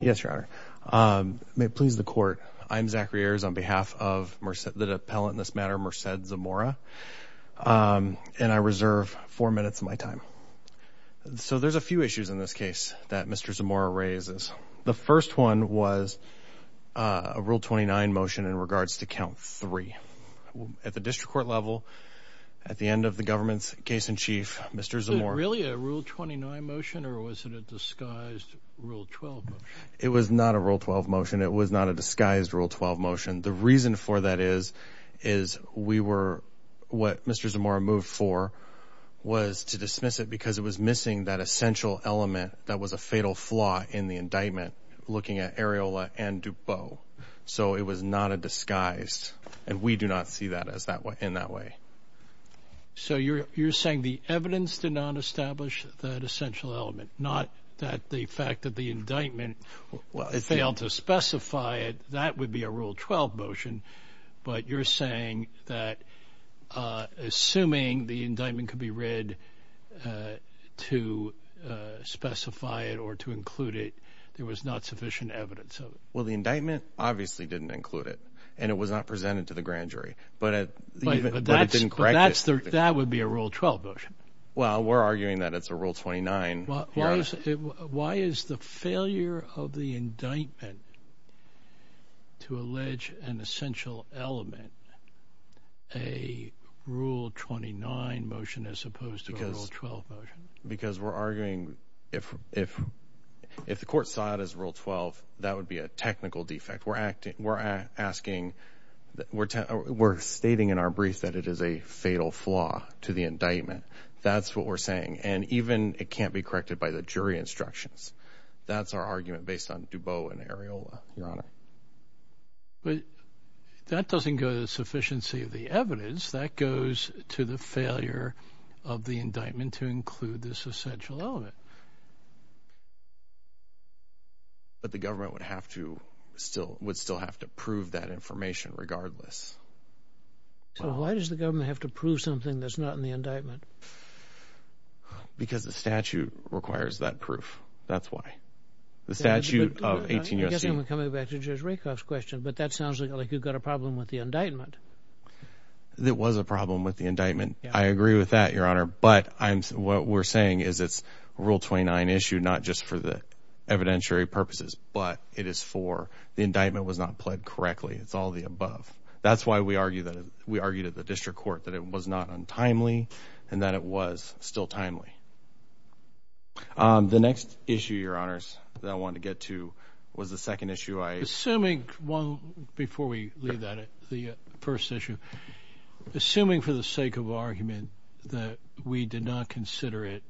Yes, your honor. May it please the court, I'm Zachary Ayers on behalf of the appellant in this matter, Merced Zamora, and I reserve four minutes of my time. So there's a few issues in this case that Mr. Zamora raises. The first one was a Rule 29 motion in regards to count three. At the district court level, at the end of the government's case in chief, Mr. Zamora- Was it a Rule 29 motion or was it a disguised Rule 12 motion? It was not a Rule 12 motion. It was not a disguised Rule 12 motion. The reason for that is, is we were- what Mr. Zamora moved for was to dismiss it because it was missing that essential element that was a fatal flaw in the indictment, looking at Areola and DuPau. So it was not a disguised, and we do not see that as that way, in that way. So you're saying the evidence did not establish that essential element, not that the fact that the indictment failed to specify it, that would be a Rule 12 motion, but you're saying that assuming the indictment could be read to specify it or to include it, there was not sufficient evidence of it. Well, the indictment obviously didn't include it, and it was not presented to the grand jury, but at- Wait, but that's- But it didn't correct it. That would be a Rule 12 motion. Well, we're arguing that it's a Rule 29. Why is the failure of the indictment to allege an essential element a Rule 29 motion as opposed to a Rule 12 motion? Because we're arguing if the court saw it as a Rule 12, that would be a technical defect. We're stating in our brief that it is a fatal flaw to the indictment. That's what we're saying. And even it can't be corrected by the jury instructions. That's our argument based on DuPau and Areola, Your Honor. That doesn't go to the sufficiency of the evidence. That goes to the failure of the indictment to include this essential element. But the government would have to still- would still have to prove that information regardless. So why does the government have to prove something that's not in the indictment? Because the statute requires that proof. That's why. The statute of 18- I guess I'm coming back to Judge Rakoff's question, but that sounds like you've got a problem with the indictment. It was a problem with the indictment. I agree with that, Your Honor. But I'm- what we're saying is it's a Rule 29 issue, not just for the evidentiary purposes, but it is for- the indictment was not pled correctly. It's all of the above. That's why we argue that- we argue to the district court that it was not untimely and that it was still timely. The next issue, Your Honors, that I wanted to get to was the second issue I- we did not consider it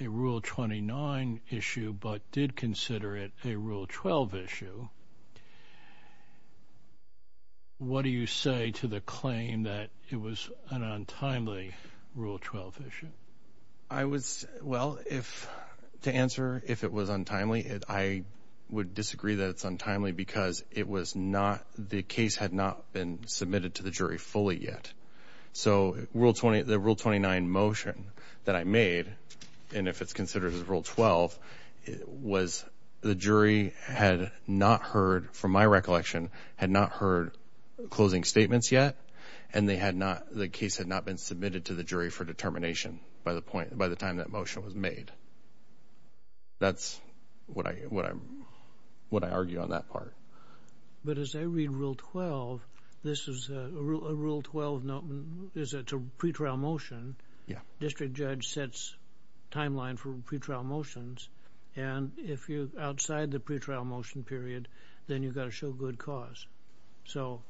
a Rule 29 issue, but did consider it a Rule 12 issue. What do you say to the claim that it was an untimely Rule 12 issue? I was- well, if- to answer if it was untimely, I would disagree that it's untimely because it was not- the case had not been submitted to the jury fully yet. So Rule 20- the Rule 29 motion that I made, and if it's considered as Rule 12, was the jury had not heard, from my recollection, had not heard closing statements yet, and they had not- the case had not been submitted to the jury for determination by the point- by the time that motion was made. That's what I- what I'm- what I argue on that part. But as I read Rule 12, this is a Rule 12- it's a pretrial motion. District judge sets timeline for pretrial motions, and if you're outside the pretrial motion period, then you've got to show good cause. So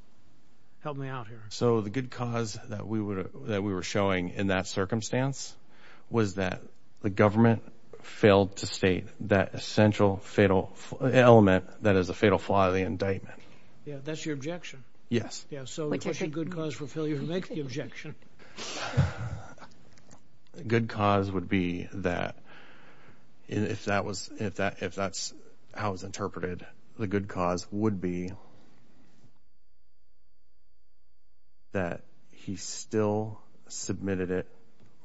help me out here. So the good cause that we were- that we were showing in that circumstance was that the government failed to state that essential fatal element that is a fatal flaw of the indictment. Yeah. That's your objection? Yeah. So what's the good cause for failure to make the objection? The good cause would be that- if that was- if that- if that's how it was interpreted, the good cause would be that he still submitted it-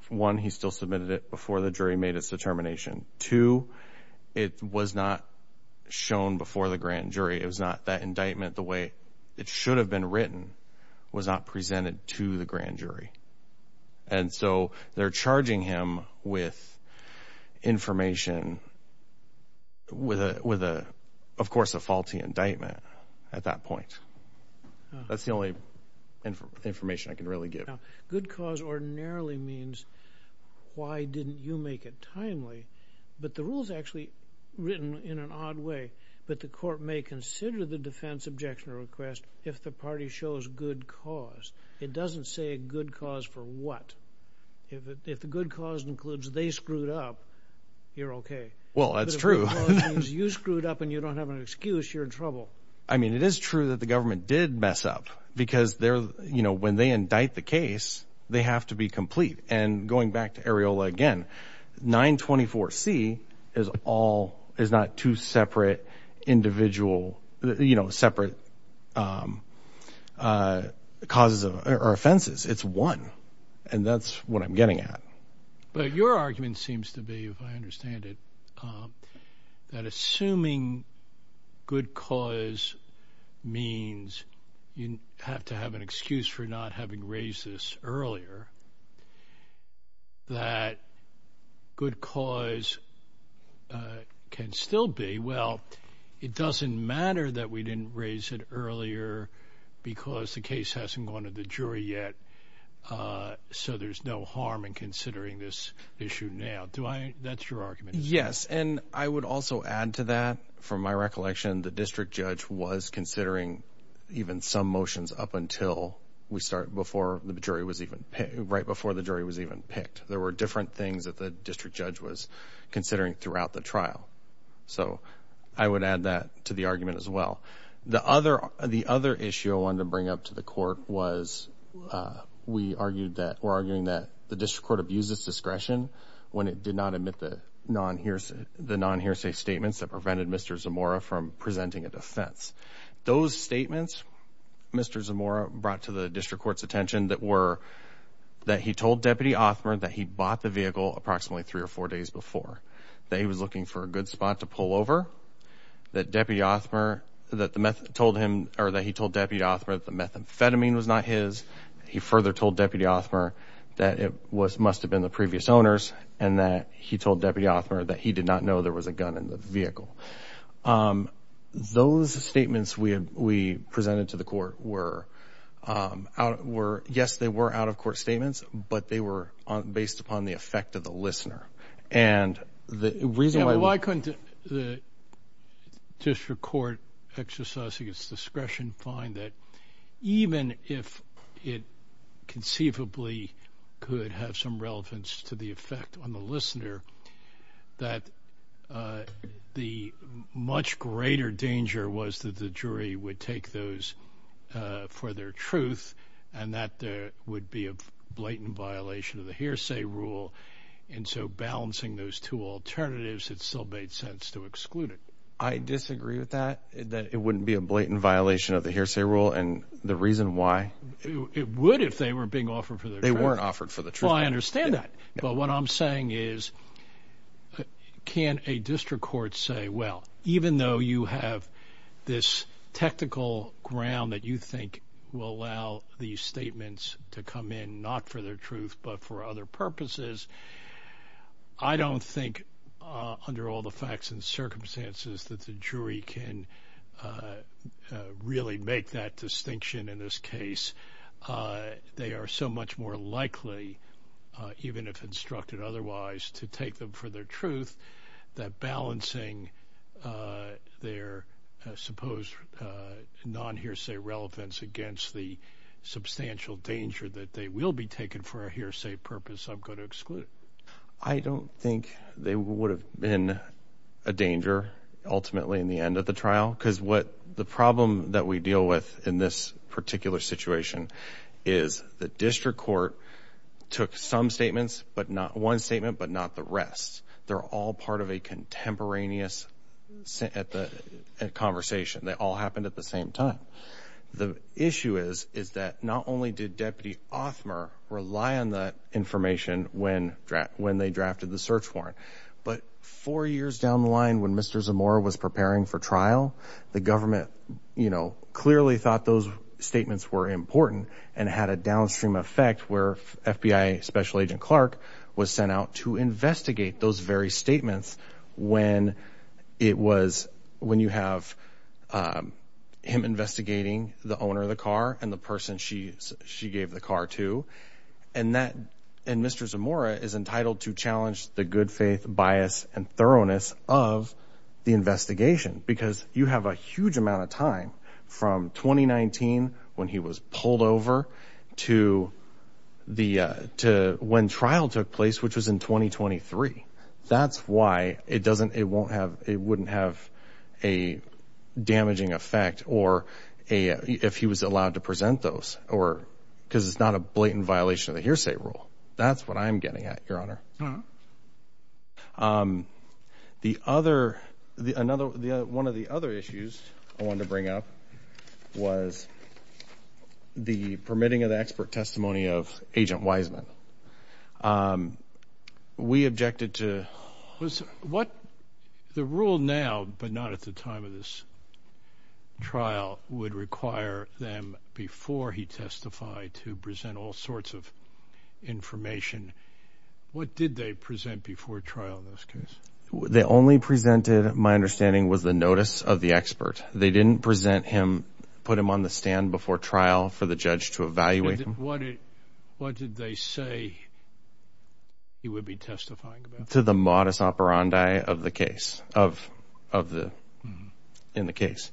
one, he still submitted it before the grand jury had made its determination. Two, it was not shown before the grand jury. It was not- that indictment, the way it should have been written, was not presented to the grand jury. And so they're charging him with information with a- with a- of course, a faulty indictment at that point. That's the only information I can really give. Now, good cause ordinarily means, why didn't you make it timely? But the rule's actually written in an odd way, that the court may consider the defense objection request if the party shows good cause. It doesn't say good cause for what. If the good cause includes they screwed up, you're okay. Well that's true. If the good cause means you screwed up and you don't have an excuse, you're in trouble. I mean, it is true that the government did mess up because they're- you know, when they indict the case, they have to be complete. And going back to Areola again, 924C is all- is not two separate individual- you know, separate causes or offenses. It's one. And that's what I'm getting at. But your argument seems to be, if I understand it, that assuming good cause means you have to have an excuse for not having raised this earlier, that good cause can still be, well, it doesn't matter that we didn't raise it earlier because the case hasn't gone to the jury yet, so there's no harm in considering this issue now. Do I- that's your argument? Yes. And I would also add to that, from my recollection, the district judge was considering even some motions up until we started before the jury was even- right before the jury was even picked. There were different things that the district judge was considering throughout the trial. So I would add that to the argument as well. The other issue I wanted to bring up to the court was we argued that- we're arguing that the district court abuses discretion when it did not admit the non-hearsay statements that prevented Mr. Zamora from presenting a defense. Those statements, Mr. Zamora brought to the district court's attention that were that he told Deputy Othmer that he bought the vehicle approximately three or four days before, that he was looking for a good spot to pull over, that Deputy Othmer- that the meth- told him- or that he told Deputy Othmer that the methamphetamine was not his. He further told Deputy Othmer that it was- must have been the previous owner's and that he told Deputy Othmer that he did not know there was a gun in the vehicle. Those statements we had- we presented to the court were out- were- yes, they were out-of-court statements, but they were based upon the effect of the listener. And the reason why- Yeah, but why couldn't the district court exercising its discretion find that even if it conceivably could have some relevance to the effect on the listener, that the much greater danger was that the jury would take those for their truth, and that there would be a blatant violation of the hearsay rule. And so balancing those two alternatives, it still made sense to exclude it. I disagree with that, that it wouldn't be a blatant violation of the hearsay rule, and the reason why- It would if they were being offered for their truth. They weren't offered for the truth. Well, I understand that. But what I'm saying is, can a district court say, well, even though you have this technical ground that you think will allow these statements to come in, not for their truth, but for other purposes, I don't think, under all the facts and circumstances, that the jury can really make that distinction in this case. They are so much more likely, even if instructed otherwise, to take them for their truth, that balancing their supposed non-hearsay relevance against the substantial danger that they will be taken for a hearsay purpose, I'm going to exclude it. I don't think they would have been a danger, ultimately, in the end of the trial. The problem that we deal with in this particular situation is the district court took some statements, but not one statement, but not the rest. They're all part of a contemporaneous conversation. They all happened at the same time. The issue is, is that not only did Deputy Othmer rely on that information when they drafted the search warrant, but four years down the line when Mr. Zamora was preparing for trial, the government clearly thought those statements were important and had a downstream effect where FBI Special Agent Clark was sent out to investigate those very statements when you have him investigating the owner of the car and the person she gave the car to, and Mr. Zamora is entitled to challenge the good faith, bias, and thoroughness of the investigation, because you have a huge amount of time from 2019 when he was pulled over to when trial took place, which was in 2023. That's why it wouldn't have a damaging effect if he was allowed to present those, because it's not a blatant violation of the hearsay rule. That's what I'm getting at, Your Honor. Uh-huh. One of the other issues I wanted to bring up was the permitting of the expert testimony of Agent Wiseman. We objected to... The rule now, but not at the time of this trial, would require them, before he testified, to present all sorts of information. What did they present before trial in this case? They only presented, my understanding, was the notice of the expert. They didn't present him, put him on the stand before trial for the judge to evaluate him. What did they say he would be testifying about? To the modest operandi in the case.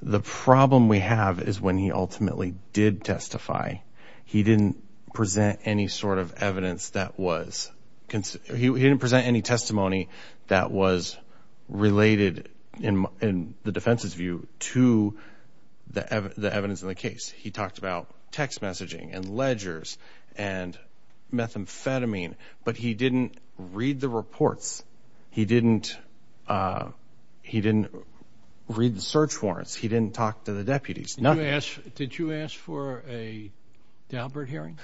The problem we have is when he ultimately did testify, he didn't present any sort of evidence that was... He didn't present any testimony that was related, in the defense's view, to the evidence in the case. He talked about text messaging and ledgers and methamphetamine, but he didn't read the reports. He didn't read the search warrants. He didn't talk to the deputies. Did you ask for a Daubert hearing?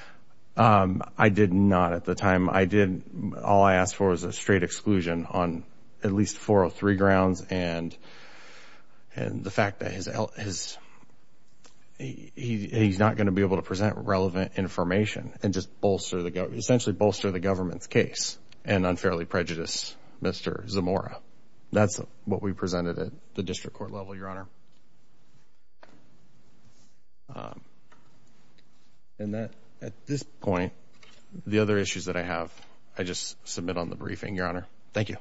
I did not at the time. I did... All I asked for was a straight exclusion on at least 403 grounds and the fact that he's not going to be able to present relevant information and just bolster the... Essentially bolster the government's case and unfairly prejudice Mr. Zamora. That's what we presented at the district court level, Your Honor. At this point, the other issues that I have, I just submit on the briefing, Your Honor. Thank you.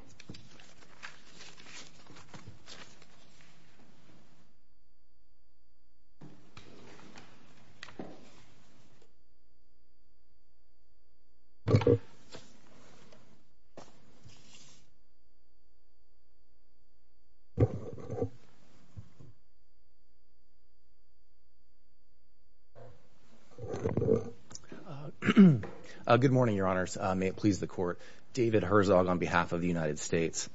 Good morning, Your Honors. May it please the court. David Herzog on behalf of the United States.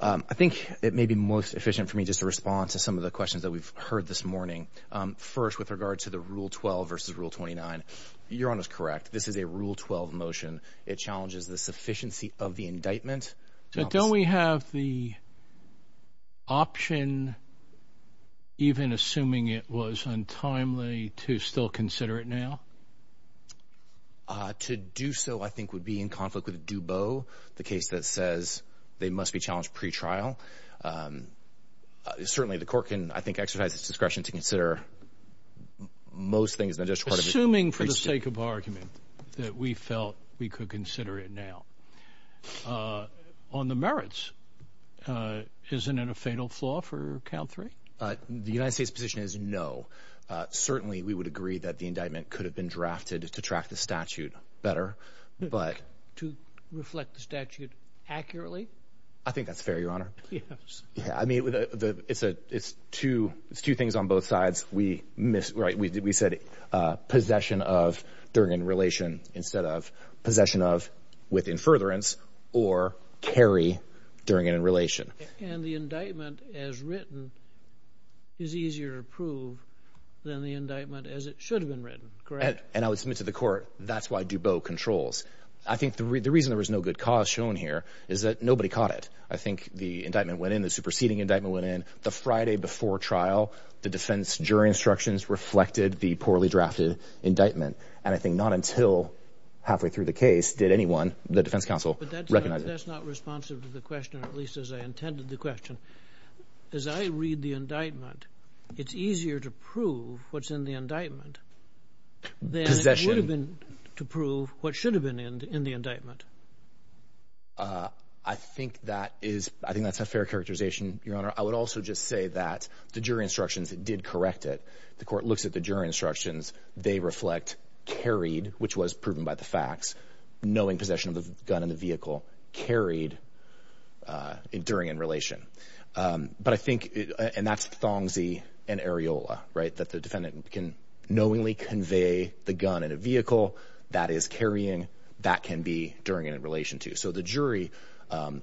I think it may be most efficient for me just to respond to some of the questions that we've heard this morning. First, with regard to the Rule 12 versus Rule 29. Your Honor's correct. This is a Rule 12 motion. It challenges the sufficiency of the indictment. So don't we have the option, even assuming it was untimely, to still consider it now? To do so, I think, would be in conflict with Dubot, the case that says they must be challenged pre-trial. Certainly, the court can, I think, exercise its discretion to consider most things in the district court... Assuming, for the sake of argument, that we felt we could consider it now. On the merits, isn't it a fatal flaw for count three? The United States' position is no. Certainly, we would agree that the indictment could have been drafted to track the statute better, but... To reflect the statute accurately? I think that's fair, Your Honor. Yes. Yeah. I mean, it's two things on both sides. We said possession of during an in-relation instead of possession of with in-furtherance or carry during an in-relation. And the indictment as written is easier to prove than the indictment as it should have been written, correct? And I would submit to the court, that's why Dubot controls. I think the reason there was no good cause shown here is that nobody caught it. I think the indictment went in, the superseding indictment went in, the Friday before trial, the defense jury instructions reflected the poorly drafted indictment. And I think not until halfway through the case did anyone, the defense counsel, recognize But that's not responsive to the question, at least as I intended the question. As I read the indictment, it's easier to prove what's in the indictment than it would have been to prove what should have been in the indictment. I think that is, I think that's a fair characterization, Your Honor. I would also just say that the jury instructions did correct it. The court looks at the jury instructions, they reflect carried, which was proven by the facts, knowing possession of the gun in the vehicle, carried during in-relation. But I think, and that's Thongzee and Areola, right, that the defendant can knowingly convey the gun in a vehicle that is carrying, that can be during an in-relation too. So the jury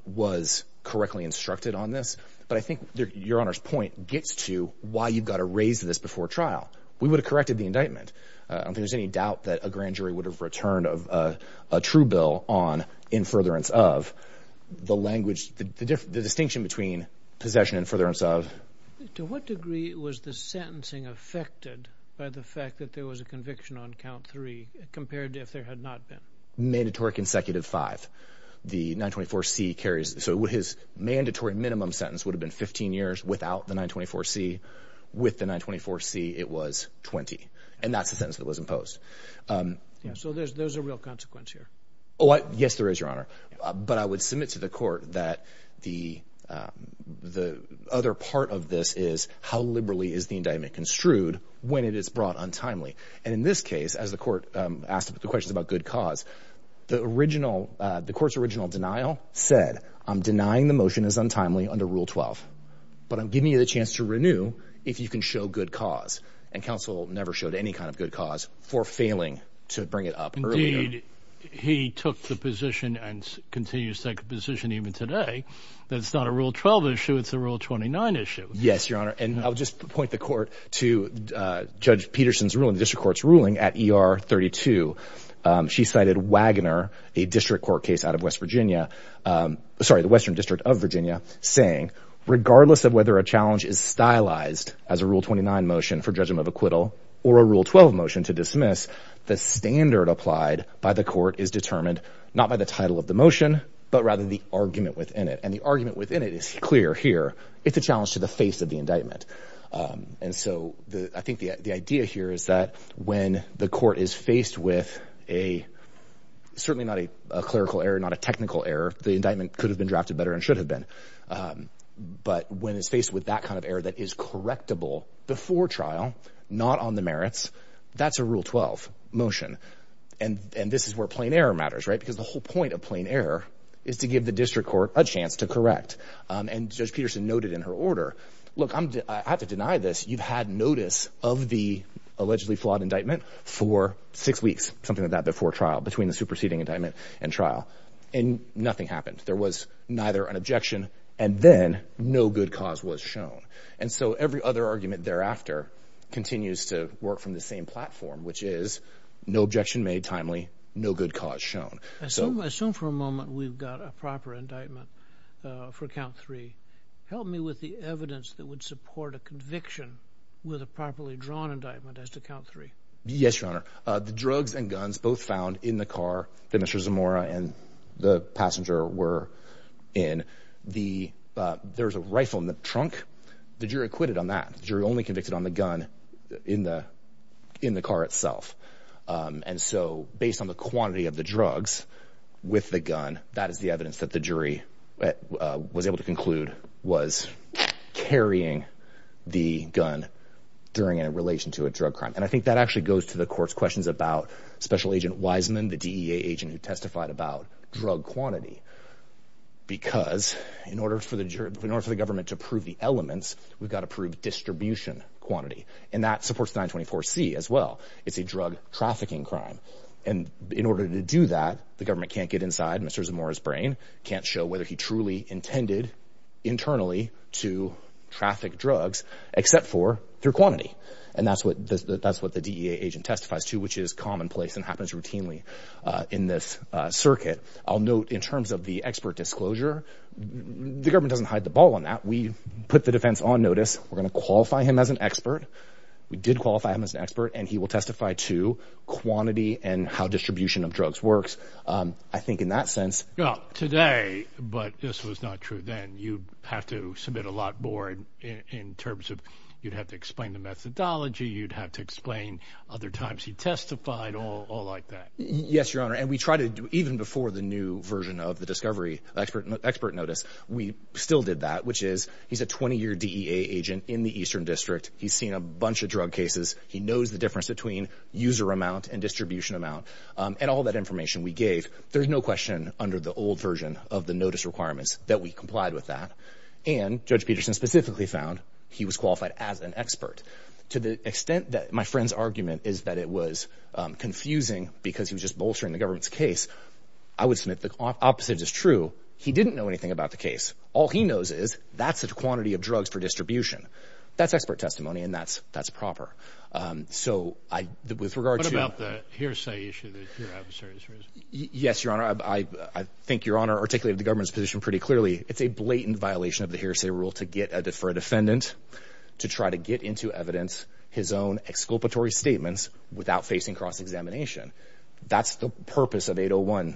was correctly instructed on this. But I think Your Honor's point gets to why you've got to raise this before trial. We would have corrected the indictment. I don't think there's any doubt that a grand jury would have returned a true bill on in furtherance of the language, the distinction between possession and furtherance of. To what degree was the sentencing affected by the fact that there was a conviction on count three compared to if there had not been? Mandatory consecutive five. The 924C carries, so his mandatory minimum sentence would have been 15 years without the 924C. With the 924C, it was 20. And that's the sentence that was imposed. So there's a real consequence here. Oh, yes, there is, Your Honor. But I would submit to the court that the other part of this is how liberally is the indictment construed when it is brought untimely? And in this case, as the court asked the questions about good cause, the original, the court's original denial said, I'm denying the motion is untimely under Rule 12, but I'm giving you the chance to renew if you can show good cause. And counsel never showed any kind of good cause for failing to bring it up. Indeed, he took the position and continues to take a position even today that it's not a Rule 12 issue, it's a Rule 29 issue. Yes, Your Honor. And I would just point the court to Judge Peterson's ruling, the district court's ruling at ER 32. She cited Wagner, a district court case out of West Virginia, sorry, the Western District of Virginia, saying, regardless of whether a challenge is stylized as a Rule 29 motion for judgment of acquittal or a Rule 12 motion to dismiss, the standard applied by the court is determined not by the title of the motion, but rather the argument within it. And the argument within it is clear here. It's a challenge to the face of the indictment. And so I think the idea here is that when the court is faced with a, certainly not a clerical error, not a technical error, the indictment could have been drafted better and should have been. But when it's faced with that kind of error that is correctable before trial, not on the merits, that's a Rule 12 motion. And this is where plain error matters, right? Because the whole point of plain error is to give the district court a chance to correct. And Judge Peterson noted in her order, look, I have to deny this. You've had notice of the allegedly flawed indictment for six weeks, something like that before trial, between the superseding indictment and trial, and nothing happened. There was neither an objection and then no good cause was shown. And so every other argument thereafter continues to work from the same platform, which is no objection made timely, no good cause shown. I assume for a moment we've got a proper indictment for count three. Help me with the evidence that would support a conviction with a properly drawn indictment as to count three. Yes, Your Honor. The drugs and guns both found in the car that Mr. Zamora and the passenger were in. There's a rifle in the trunk. The jury acquitted on that. The jury only convicted on the gun in the car itself. And so based on the quantity of the drugs with the gun, that is the evidence that the jury was able to conclude was carrying the gun during a relation to a drug crime. And I think that actually goes to the court's questions about Special Agent Wiseman, the DEA agent who testified about drug quantity, because in order for the government to prove the elements, we've got to prove distribution quantity. And that supports 924C as well. It's a drug trafficking crime. And in order to do that, the government can't get inside Mr. Zamora's brain, can't show whether he truly intended internally to traffic drugs, except for through quantity. And that's what the DEA agent testifies to, which is commonplace and happens routinely in this circuit. I'll note, in terms of the expert disclosure, the government doesn't hide the ball on that. We put the defense on notice. We're going to qualify him as an expert. We did qualify him as an expert, and he will testify to quantity and how distribution of drugs works. I think in that sense... Now, today, but this was not true then, you have to submit a lot more in terms of, you'd have to explain the methodology, you'd have to explain other times he testified, all like that. Yes, Your Honor. And we try to, even before the new version of the discovery, expert notice, we still did that, which is, he's a 20-year DEA agent in the Eastern District. He's seen a bunch of drug cases. He knows the difference between user amount and distribution amount, and all that information we gave. There's no question, under the old version of the notice requirements, that we complied with that. And, Judge Peterson specifically found, he was qualified as an expert. To the extent that my friend's argument is that it was confusing because he was just bolstering the government's case, I would submit the opposite is true. He didn't know anything about the case. All he knows is, that's the quantity of drugs per distribution. That's expert testimony, and that's proper. So, with regard to... What about the hearsay issue that your adversary is raising? Yes, Your Honor. I think Your Honor articulated the government's position pretty clearly. It's a blatant violation of the hearsay rule to get a deferred defendant to try to get into evidence, his own exculpatory statements, without facing cross-examination. That's the purpose of 801.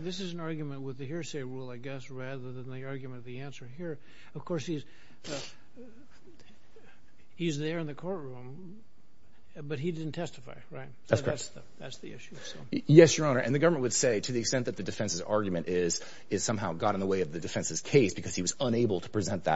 This is an argument with the hearsay rule, I guess, rather than the argument of the answer here. Of course, he's there in the courtroom, but he didn't testify, right? That's correct. That's the issue. Yes, Your Honor. And the government would say, to the extent that the defense's argument is somehow got in the way of the defense's case because he was unable to present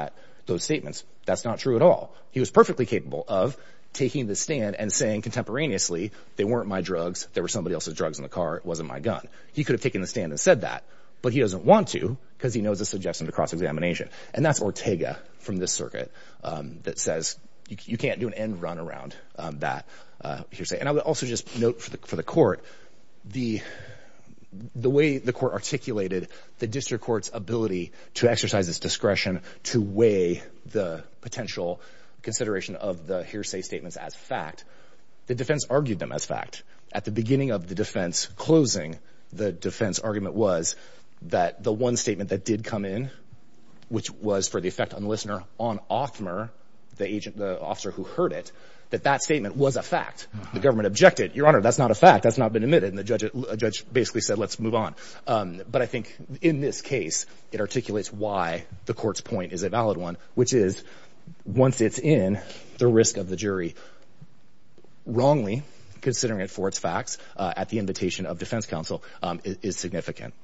those statements, that's not true at all. He was perfectly capable of taking the stand and saying contemporaneously, they weren't my drugs, they were somebody else's drugs in the car, it wasn't my gun. He could have taken the stand and said that, but he doesn't want to because he knows it's objection to cross-examination. And that's Ortega from this circuit that says you can't do an end run around that hearsay. And I would also just note for the court, the way the court articulated the district court's ability to exercise its discretion to weigh the potential consideration of the hearsay statements as fact, the defense argued them as fact. At the beginning of the defense closing, the defense argument was that the one statement that did come in, which was for the effect on the listener on Othmer, the agent, the officer who heard it, that that statement was a fact. The government objected. Your Honor, that's not a fact. That's not been admitted. And the judge basically said, let's move on. But I think in this case, it articulates why the court's point is a valid one, which is once it's in, the risk of the jury wrongly considering it for its facts at the invitation of defense counsel is significant.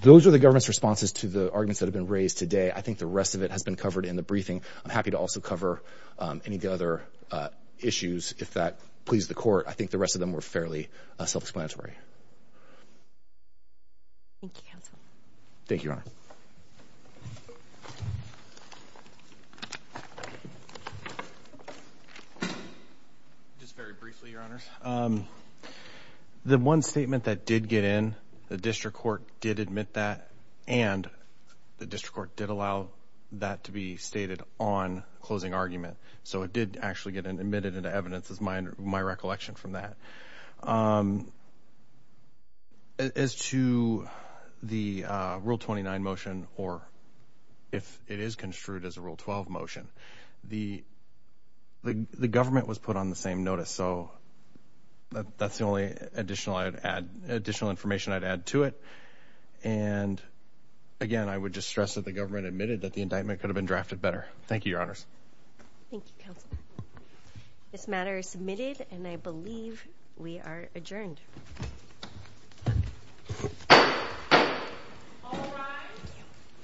Those are the government's responses to the arguments that have been raised today. I think the rest of it has been covered in the briefing. I'm happy to also cover any of the other issues, if that pleases the court. I think the rest of them were fairly self-explanatory. Thank you, counsel. Thank you, Your Honor. Just very briefly, Your Honors. The one statement that did get in, the district court did admit that, and the district court did allow that to be stated on closing argument. So it did actually get admitted into evidence, is my recollection from that. As to the Rule 29 motion, or if it is construed as a Rule 12 motion, the government was put on the same notice. So that's the only additional information I'd add to it. And again, I would just stress that the government admitted that the indictment could have been drafted better. Thank you, Your Honors. Thank you, counsel. This matter is submitted, and I believe we are adjourned.